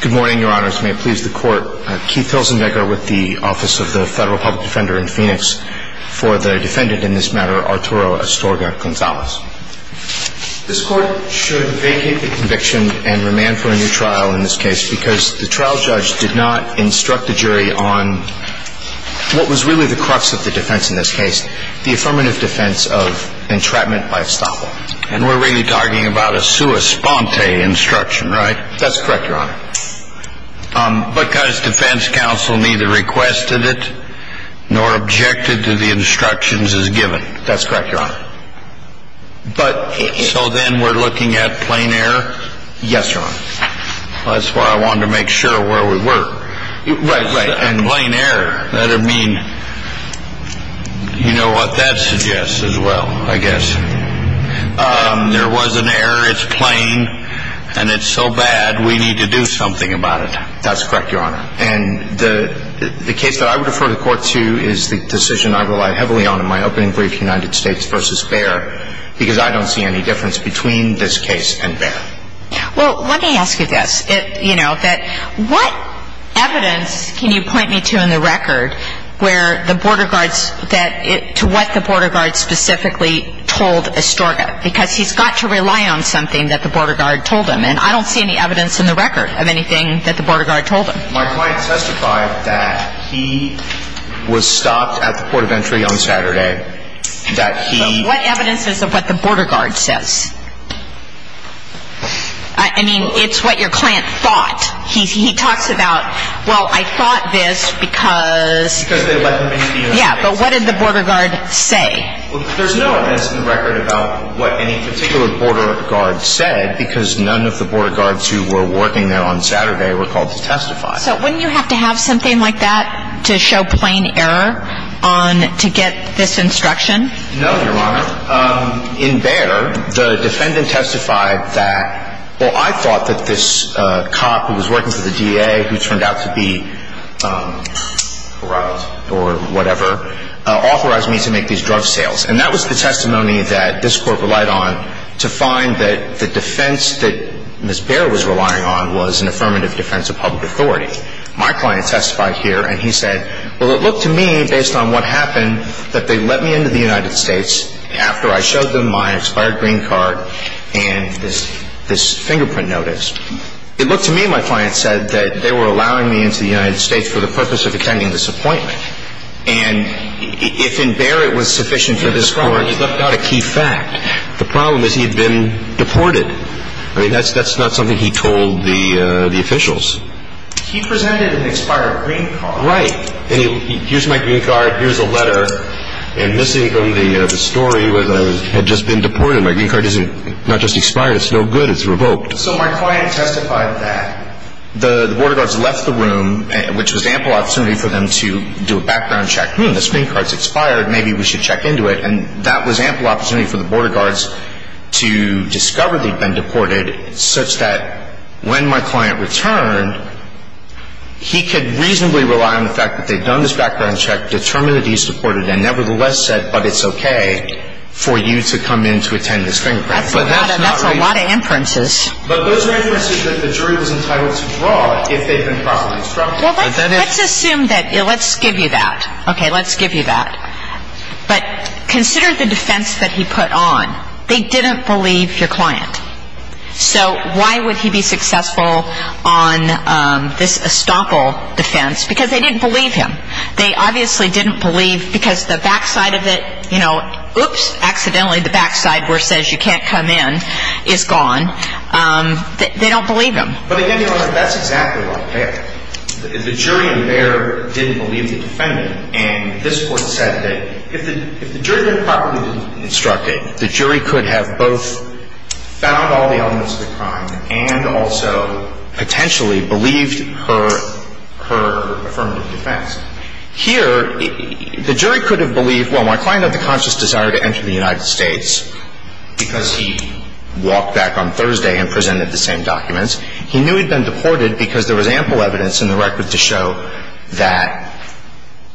Good morning, your honors. May it please the court, Keith Hilzenbecker with the Office of the Federal Public Defender in Phoenix for the defendant in this matter, Arturo Astorga-Gonzalez. This court should vacate the conviction and remand for a new trial in this case because the trial judge did not instruct the jury on what was really the crux of the defense in this case, the affirmative defense of entrapment by estoppel. And we're really talking about a sua sponte instruction, right? That's correct, your honor. Because defense counsel neither requested it nor objected to the instructions as given. That's correct, your honor. So then we're looking at plain error? Yes, your honor. That's why I wanted to make sure where we were. Right, right. And plain error. That would mean, you know what, that suggests as well, I guess. There was an error, it's plain, and it's so bad we need to do something about it. That's correct, your honor. And the case that I would refer the court to is the decision I rely heavily on in my opening brief, United States v. Baer, because I don't see any difference between this case and Baer. Well, let me ask you this. You know, what evidence can you point me to in the record where the border guards, to what the border guards specifically told Estorga? Because he's got to rely on something that the border guard told him. And I don't see any evidence in the record of anything that the border guard told him. My client testified that he was stopped at the port of entry on Saturday. What evidence is of what the border guard says? I mean, it's what your client thought. He talks about, well, I thought this because. Because they let him into the United States. Yeah, but what did the border guard say? Well, there's no evidence in the record about what any particular border guard said, because none of the border guards who were working there on Saturday were called to testify. So wouldn't you have to have something like that to show plain error to get this instruction? No, your honor. In Behr, the defendant testified that, well, I thought that this cop who was working for the DA, who turned out to be corralled or whatever, authorized me to make these drug sales. And that was the testimony that this court relied on to find that the defense that Ms. Behr was relying on was an affirmative defense of public authority. My client testified here, and he said, well, it looked to me, based on what happened, that they let me into the United States after I showed them my expired green card and this fingerprint notice. It looked to me, my client said, that they were allowing me into the United States for the purpose of attending this appointment. And if in Behr it was sufficient for this court. That's not a key fact. The problem is he had been deported. I mean, that's not something he told the officials. He presented an expired green card. Right. Here's my green card. Here's a letter. And missing from the story was that I had just been deported. My green card is not just expired. It's no good. It's revoked. So my client testified that. The border guards left the room, which was ample opportunity for them to do a background check. Hmm, this green card's expired. Maybe we should check into it. And that was ample opportunity for the border guards to discover they'd been deported, such that when my client returned, he could reasonably rely on the fact that they'd done this background check, determined that he's deported, and nevertheless said, but it's okay for you to come in to attend this fingerprint. That's a lot of inferences. But those are inferences that the jury was entitled to draw if they'd been properly instructed. Well, let's assume that. Let's give you that. Okay. Let's give you that. But consider the defense that he put on. They didn't believe your client. So why would he be successful on this estoppel defense? Because they didn't believe him. They obviously didn't believe because the backside of it, you know, oops, accidentally, the backside where it says you can't come in is gone. They don't believe him. But again, Your Honor, that's exactly what happened. The jury in there didn't believe the defendant. And this court said that if the jury had been properly instructed, the jury could have both found all the elements of the crime and also potentially believed her affirmative defense. Here, the jury could have believed, well, my client had the conscious desire to enter the United States because he walked back on Thursday and presented the same documents. He knew he'd been deported because there was ample evidence in the record to show that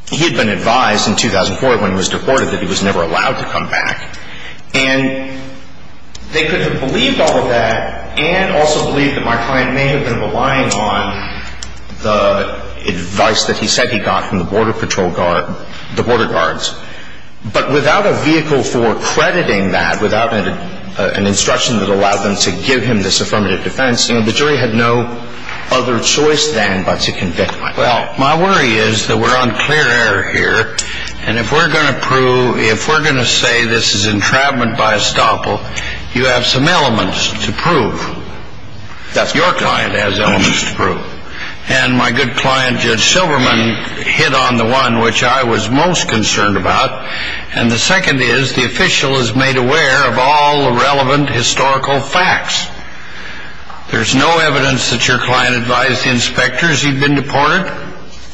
he'd been advised in 2004 when he was deported that he was never allowed to come back. And they could have believed all of that and also believed that my client may have been relying on the advice that he said he got from the border patrol guard, the border guards, but without a vehicle for crediting that, without an instruction that allowed them to give him this affirmative defense, the jury had no other choice than but to convict my client. Well, my worry is that we're on clear air here, and if we're going to prove, if we're going to say this is entrapment by estoppel, you have some elements to prove, that your client has elements to prove. And my good client, Judge Silverman, hit on the one which I was most concerned about, and the second is the official is made aware of all the relevant historical facts. There's no evidence that your client advised the inspectors he'd been deported,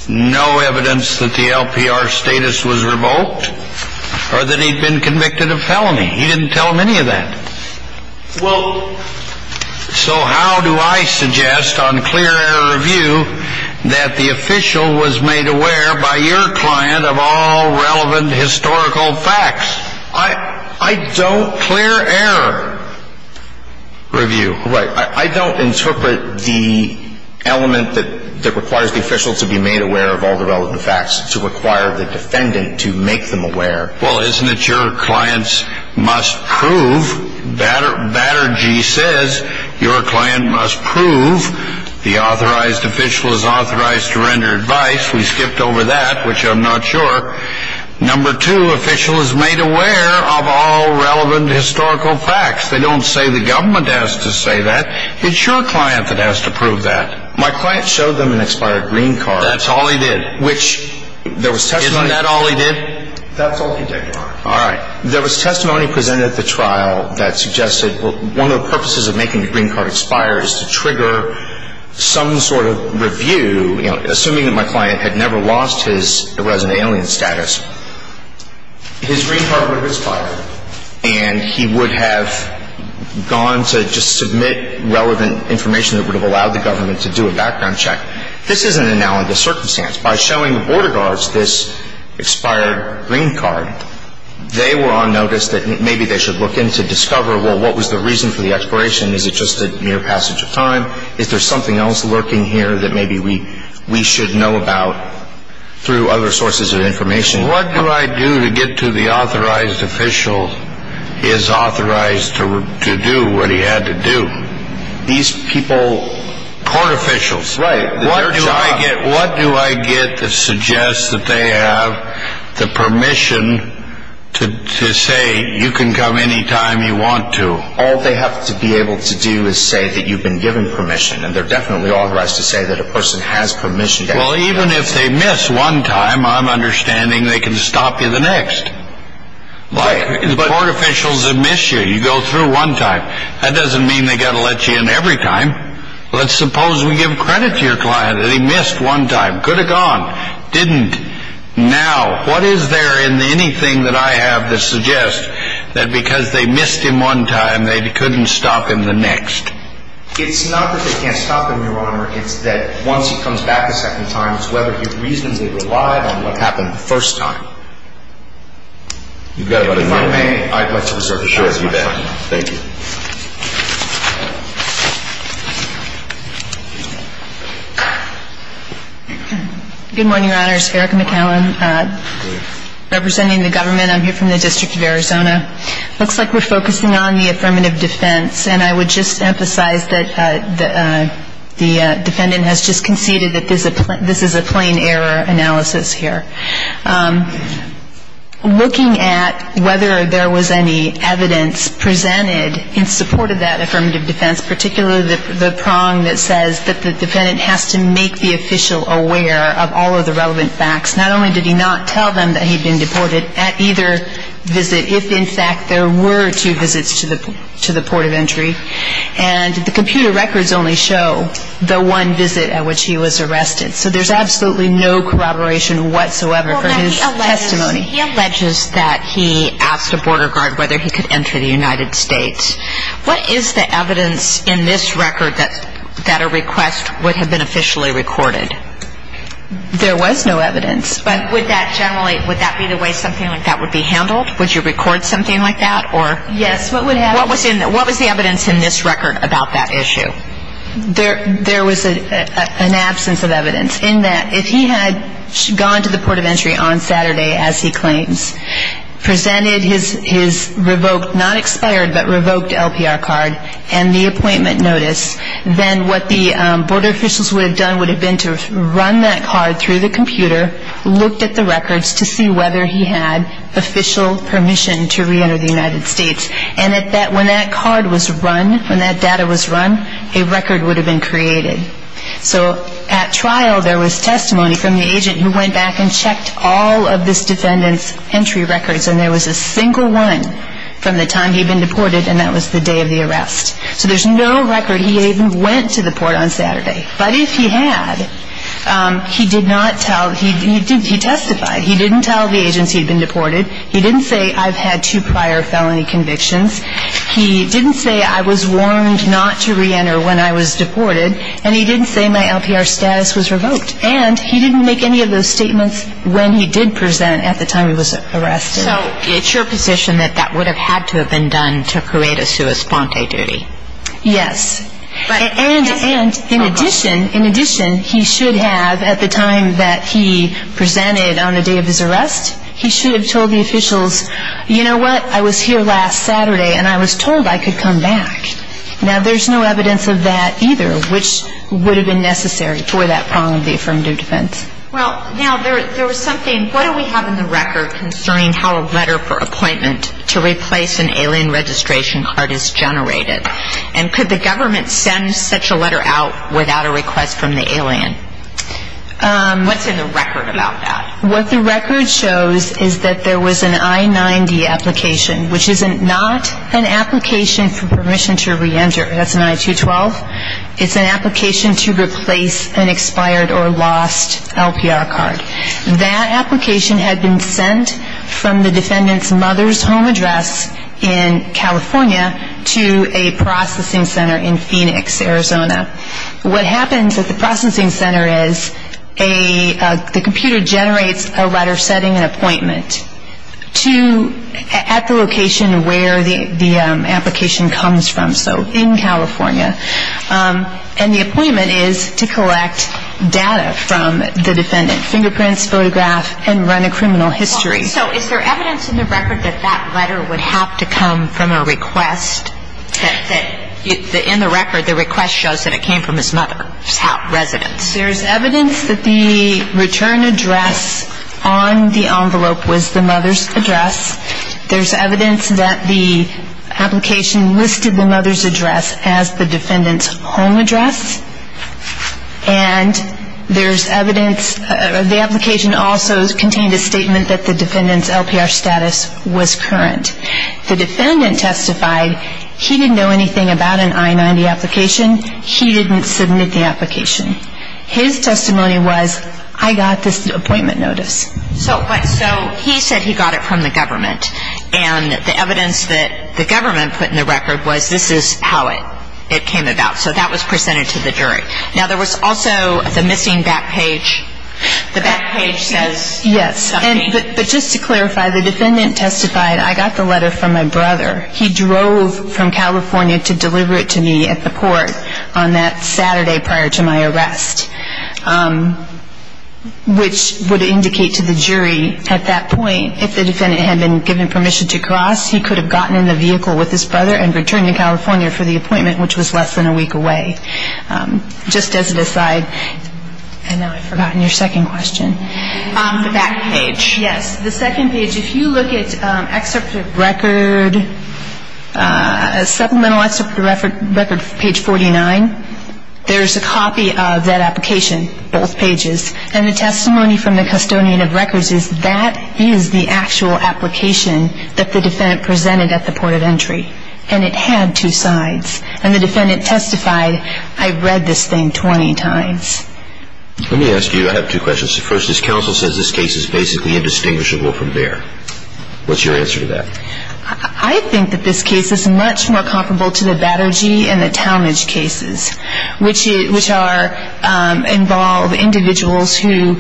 no evidence that the LPR status was revoked, or that he'd been convicted of felony. He didn't tell them any of that. Well, so how do I suggest on clear air review that the official was made aware by your client of all relevant historical facts? I don't clear air review. Right. I don't interpret the element that requires the official to be made aware of all the relevant facts to require the defendant to make them aware. Well, isn't it your client's must prove? Batter G. says your client must prove the authorized official is authorized to render advice. We skipped over that, which I'm not sure. Number two, official is made aware of all relevant historical facts. They don't say the government has to say that. It's your client that has to prove that. My client showed them an expired green card. That's all he did. Isn't that all he did? That's all he did. All right. There was testimony presented at the trial that suggested one of the purposes of making the green card expire is to trigger some sort of review. Assuming that my client had never lost his resident alien status, his green card would have expired and he would have gone to just submit relevant information that would have allowed the government to do a background check. This is an analogous circumstance. By showing the border guards this expired green card, they were on notice that maybe they should look in to discover, well, what was the reason for the expiration? Is it just a mere passage of time? Is there something else lurking here that maybe we should know about through other sources of information? What do I do to get to the authorized official is authorized to do what he had to do? These people court officials. Right. What do I get to suggest that they have the permission to say you can come any time you want to? All they have to be able to do is say that you've been given permission, and they're definitely authorized to say that a person has permission. Well, even if they miss one time, I'm understanding they can stop you the next. Right. Court officials admit you. You go through one time. That doesn't mean they've got to let you in every time. Let's suppose we give credit to your client that he missed one time. Could have gone. Didn't. Now, what is there in anything that I have that suggests that because they missed him one time, they couldn't stop him the next? It's not that they can't stop him, Your Honor. It's that once he comes back a second time, it's whether he reasonably relied on what happened the first time. You've got about a minute. If I may, I'd like to reserve the floor to you, Your Honor. Thank you. Good morning, Your Honors. Erica McCallum, representing the government. I'm here from the District of Arizona. It looks like we're focusing on the affirmative defense, and I would just emphasize that the defendant has just conceded that this is a plain error analysis here. In support of that affirmative defense, particularly the prong that says that the defendant has to make the official aware of all of the relevant facts. Not only did he not tell them that he'd been deported at either visit, if in fact there were two visits to the port of entry, and the computer records only show the one visit at which he was arrested. So there's absolutely no corroboration whatsoever for his testimony. He alleges that he asked a border guard whether he could enter the United States. What is the evidence in this record that a request would have been officially recorded? There was no evidence. But would that generally, would that be the way something like that would be handled? Would you record something like that? Yes, what would happen? What was the evidence in this record about that issue? There was an absence of evidence in that if he had gone to the port of entry on Saturday as he claims, presented his revoked, not expired, but revoked LPR card and the appointment notice, then what the border officials would have done would have been to run that card through the computer, looked at the records to see whether he had official permission to reenter the United States. And when that card was run, when that data was run, a record would have been created. So at trial there was testimony from the agent who went back and checked all of this defendant's entry records and there was a single one from the time he'd been deported and that was the day of the arrest. So there's no record he even went to the port on Saturday. But if he had, he did not tell, he testified. He didn't tell the agents he'd been deported. He didn't say I've had two prior felony convictions. He didn't say I was warned not to reenter when I was deported. And he didn't say my LPR status was revoked. And he didn't make any of those statements when he did present at the time he was arrested. So it's your position that that would have had to have been done to create a sua sponte duty? Yes. And in addition, in addition, he should have at the time that he presented on the day of his arrest, he should have told the officials, you know what, I was here last Saturday and I was told I could come back. Now there's no evidence of that either, which would have been necessary for that problem of the affirmative defense. Well, now there was something, what do we have in the record concerning how a letter for appointment to replace an alien registration card is generated? And could the government send such a letter out without a request from the alien? What's in the record about that? What the record shows is that there was an I-90 application, which is not an application for permission to reenter. That's an I-212. It's an application to replace an expired or lost LPR card. That application had been sent from the defendant's mother's home address in California to a processing center in Phoenix, Arizona. What happens at the processing center is the computer generates a letter setting an appointment. At the location where the application comes from, so in California, and the appointment is to collect data from the defendant, fingerprints, photograph, and run a criminal history. So is there evidence in the record that that letter would have to come from a request, that in the record the request shows that it came from his mother's residence? Yes, there's evidence that the return address on the envelope was the mother's address. There's evidence that the application listed the mother's address as the defendant's home address. And there's evidence the application also contained a statement that the defendant's LPR status was current. The defendant testified he didn't know anything about an I-90 application. He didn't submit the application. His testimony was I got this appointment notice. So he said he got it from the government. And the evidence that the government put in the record was this is how it came about. So that was presented to the jury. Now, there was also the missing back page. The back page says something. Yes, but just to clarify, the defendant testified I got the letter from my brother. He drove from California to deliver it to me at the court on that Saturday prior to my arrest, which would indicate to the jury at that point if the defendant had been given permission to cross, he could have gotten in the vehicle with his brother and returned to California for the appointment, which was less than a week away. Just as an aside, and now I've forgotten your second question. The back page. Yes. The second page, if you look at excerpt of record, supplemental excerpt of record, page 49, there's a copy of that application, both pages. And the testimony from the custodian of records is that is the actual application that the defendant presented at the point of entry. And it had two sides. And the defendant testified I read this thing 20 times. Let me ask you, I have two questions. First, this counsel says this case is basically indistinguishable from BEAR. What's your answer to that? I think that this case is much more comparable to the Battergy and the Townage cases, which are involved individuals who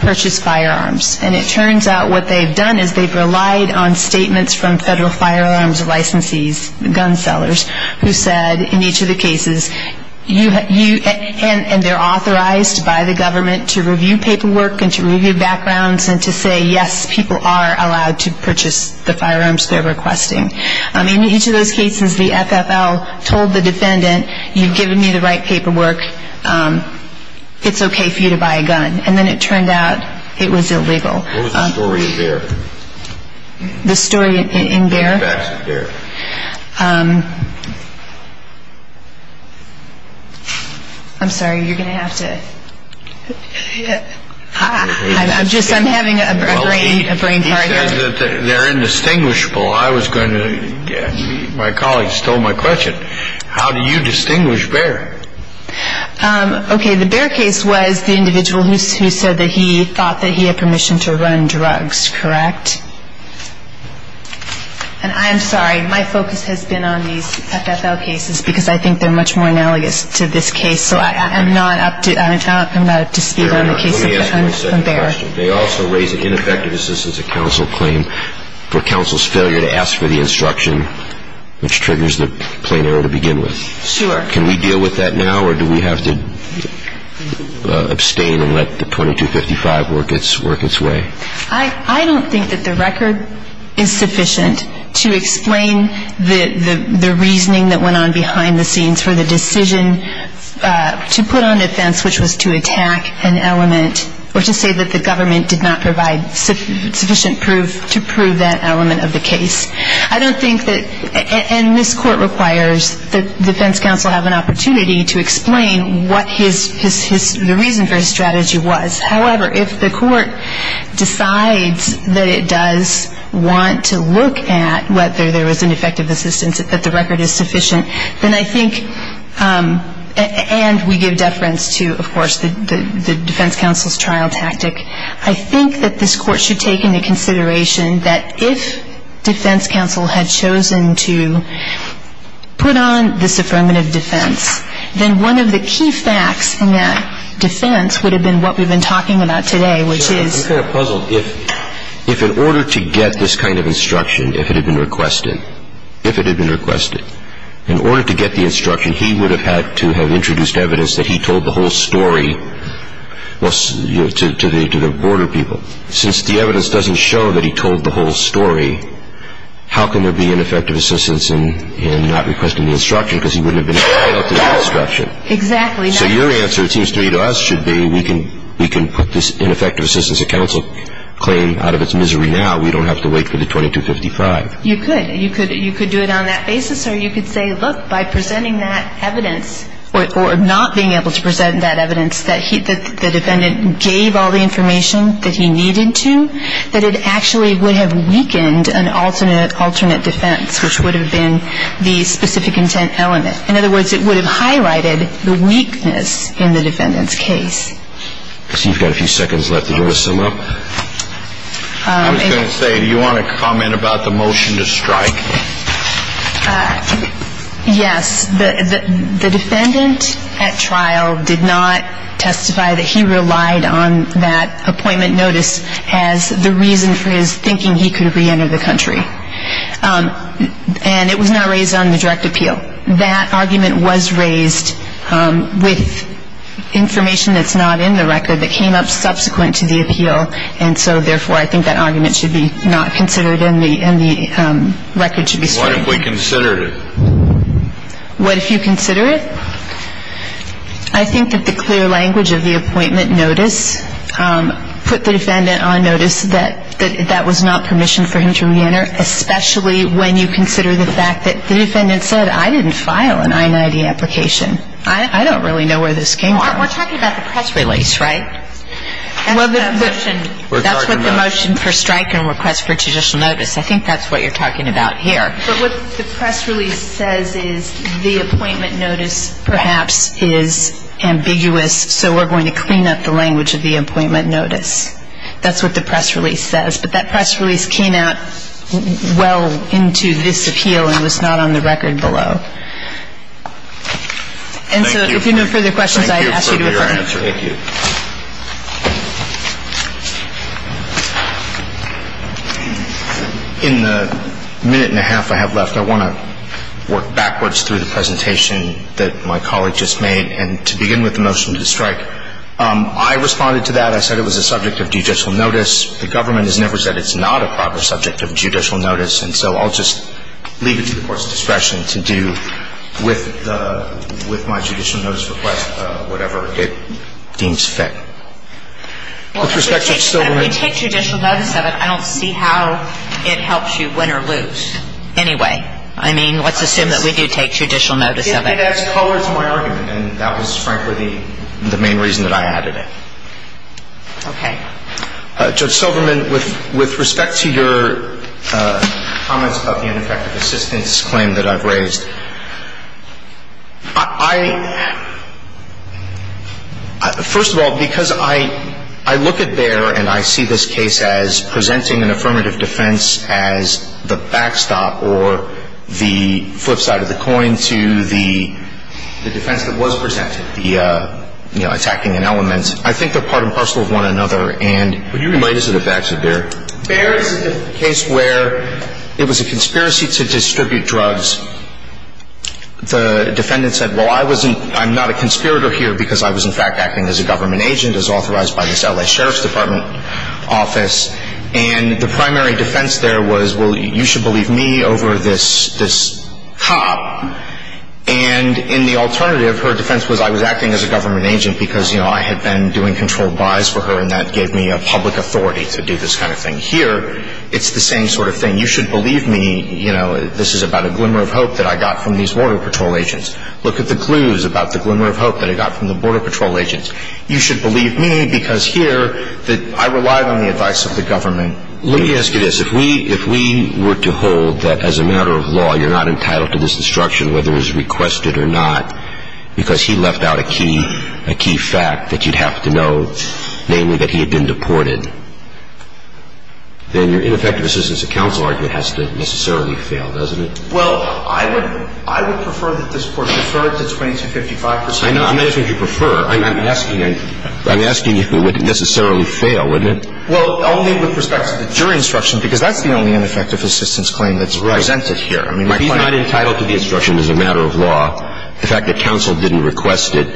purchase firearms. And it turns out what they've done is they've relied on statements from federal firearms licensees, gun sellers, who said in each of the cases, and they're authorized by the government to review paperwork and to review backgrounds and to say, yes, people are allowed to purchase the firearms they're requesting. In each of those cases, the FFL told the defendant, you've given me the right paperwork. It's okay for you to buy a gun. And then it turned out it was illegal. What was the story in BEAR? The story in BEAR? I'm sorry, you're going to have to. I'm just, I'm having a brain fart here. He says that they're indistinguishable. I was going to, my colleagues stole my question. How do you distinguish BEAR? Okay, the BEAR case was the individual who said that he thought that he had permission to run drugs, correct? And I'm sorry, my focus has been on these FFL cases because I think they're much more analogous to this case. So I'm not up to speed on the case of BEAR. Let me ask you a second question. They also raise an ineffective assistance of counsel claim for counsel's failure to ask for the instruction, which triggers the plain error to begin with. Sure. Can we deal with that now, or do we have to abstain and let the 2255 work its way? I don't think that the record is sufficient to explain the reasoning that went on behind the scenes for the decision to put on defense, which was to attack an element, or to say that the government did not provide sufficient proof to prove that element of the case. I don't think that, and this court requires that defense counsel have an opportunity to explain what his, the reason for his strategy was. However, if the court decides that it does want to look at whether there was an effective assistance, that the record is sufficient, then I think, and we give deference to, of course, the defense counsel's trial tactic. I think that this court should take into consideration that if defense counsel had chosen to put on this affirmative defense, then one of the key facts in that defense would have been what we've been talking about today, which is. I'm kind of puzzled. If in order to get this kind of instruction, if it had been requested, if it had been requested, in order to get the instruction, he would have had to have introduced evidence that he told the whole story to the border people. Since the evidence doesn't show that he told the whole story, how can there be an effective assistance in not requesting the instruction because he wouldn't have been able to get the instruction? Exactly. So your answer, it seems to me, to us should be we can put this ineffective assistance of counsel claim out of its misery now. We don't have to wait for the 2255. You could. You could do it on that basis, or you could say, look, by presenting that evidence, or not being able to present that evidence that the defendant gave all the information that he needed to, that it actually would have weakened an alternate defense, which would have been the specific intent element. In other words, it would have highlighted the weakness in the defendant's case. I see you've got a few seconds left. Do you want to sum up? I was going to say, do you want to comment about the motion to strike? Yes. The defendant at trial did not testify that he relied on that appointment notice as the reason for his thinking he could reenter the country. And it was not raised on the direct appeal. That argument was raised with information that's not in the record that came up subsequent to the appeal. And so, therefore, I think that argument should be not considered and the record should be straight. What if we considered it? What if you consider it? I think that the clear language of the appointment notice put the defendant on notice that that was not permission for him to reenter, especially when you consider the fact that the defendant said, I didn't file an I-90 application. I don't really know where this came from. We're talking about the press release, right? That's what the motion for strike and request for judicial notice. I think that's what you're talking about here. But what the press release says is the appointment notice perhaps is ambiguous, so we're going to clean up the language of the appointment notice. That's what the press release says. But that press release came out well into this appeal and was not on the record below. And so, if you have no further questions, I ask you to affirm. Thank you. In the minute and a half I have left, I want to work backwards through the presentation that my colleague just made. And to begin with the motion to strike, I responded to that. I said it was a subject of judicial notice. The government has never said it's not a proper subject of judicial notice. And so I'll just leave it to the Court's discretion to do with my judicial notice request whatever it deems fit. With respect, Judge Silverman. Well, if you take judicial notice of it, I don't see how it helps you win or lose anyway. I mean, let's assume that we do take judicial notice of it. It did add color to my argument, and that was, frankly, the main reason that I added it. Okay. Judge Silverman, with respect to your comments about the ineffective assistance claim that I've raised, I – first of all, because I look at Bayer and I see this case as presenting an affirmative defense as the backstop or the flip side of the coin to the defense that was presented, the attacking an element. I think they're part and parcel of one another, and – Would you remind us of the facts of Bayer? Bayer is a case where it was a conspiracy to distribute drugs. The defendant said, well, I wasn't – I'm not a conspirator here because I was, in fact, acting as a government agent, as authorized by this L.A. Sheriff's Department office. And the primary defense there was, well, you should believe me over this cop. And in the alternative, her defense was I was acting as a government agent because, you know, I had been doing controlled buys for her and that gave me a public authority to do this kind of thing. Here, it's the same sort of thing. You should believe me, you know, this is about a glimmer of hope that I got from these Border Patrol agents. Look at the clues about the glimmer of hope that I got from the Border Patrol agents. You should believe me because here I relied on the advice of the government. Let me ask you this. If we were to hold that, as a matter of law, you're not entitled to this instruction, whether it was requested or not, because he left out a key fact that you'd have to know, namely that he had been deported, then your ineffective assistance at counsel argument has to necessarily fail, doesn't it? Well, I would prefer that this court deferred to 2255 percent. I know. I'm not asking if you prefer. I'm asking you would it necessarily fail, wouldn't it? Well, only with respect to the jury instruction because that's the only ineffective assistance claim that's presented here. Right. I mean, if he's not entitled to the instruction as a matter of law, the fact that counsel didn't request it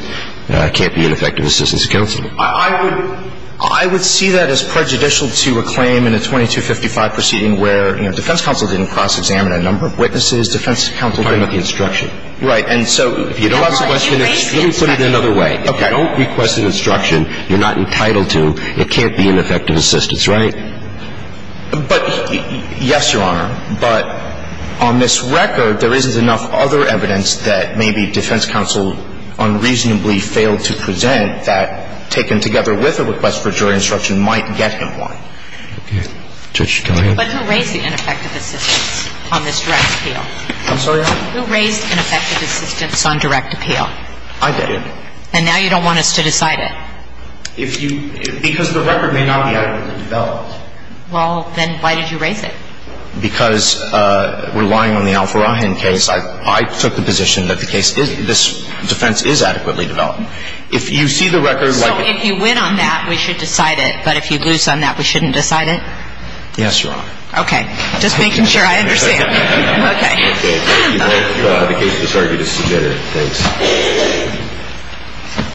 can't be ineffective assistance at counsel. I would see that as prejudicial to a claim in a 2255 proceeding where, you know, defense counsel didn't cross-examine a number of witnesses, defense counsel didn't. I'm talking about the instruction. Right. And so. If you don't request an instruction. Let me put it another way. Okay. If you don't request an instruction, you're not entitled to, it can't be ineffective assistance, right? But, yes, Your Honor. But on this record, there isn't enough other evidence that maybe defense counsel unreasonably failed to present that taken together with a request for jury instruction might get him one. Okay. Judge, go ahead. But who raised the ineffective assistance on this direct appeal? I'm sorry? Who raised ineffective assistance on direct appeal? I did. And now you don't want us to decide it? If you – because the record may not be adequately developed. Well, then why did you raise it? Because relying on the Alfaragin case, I took the position that the case is – this defense is adequately developed. If you see the record. So if you win on that, we should decide it. But if you lose on that, we shouldn't decide it? Yes, Your Honor. Okay. Just making sure I understand. Okay. Thank you, Your Honor. The case was heard. It is submitted. Thanks.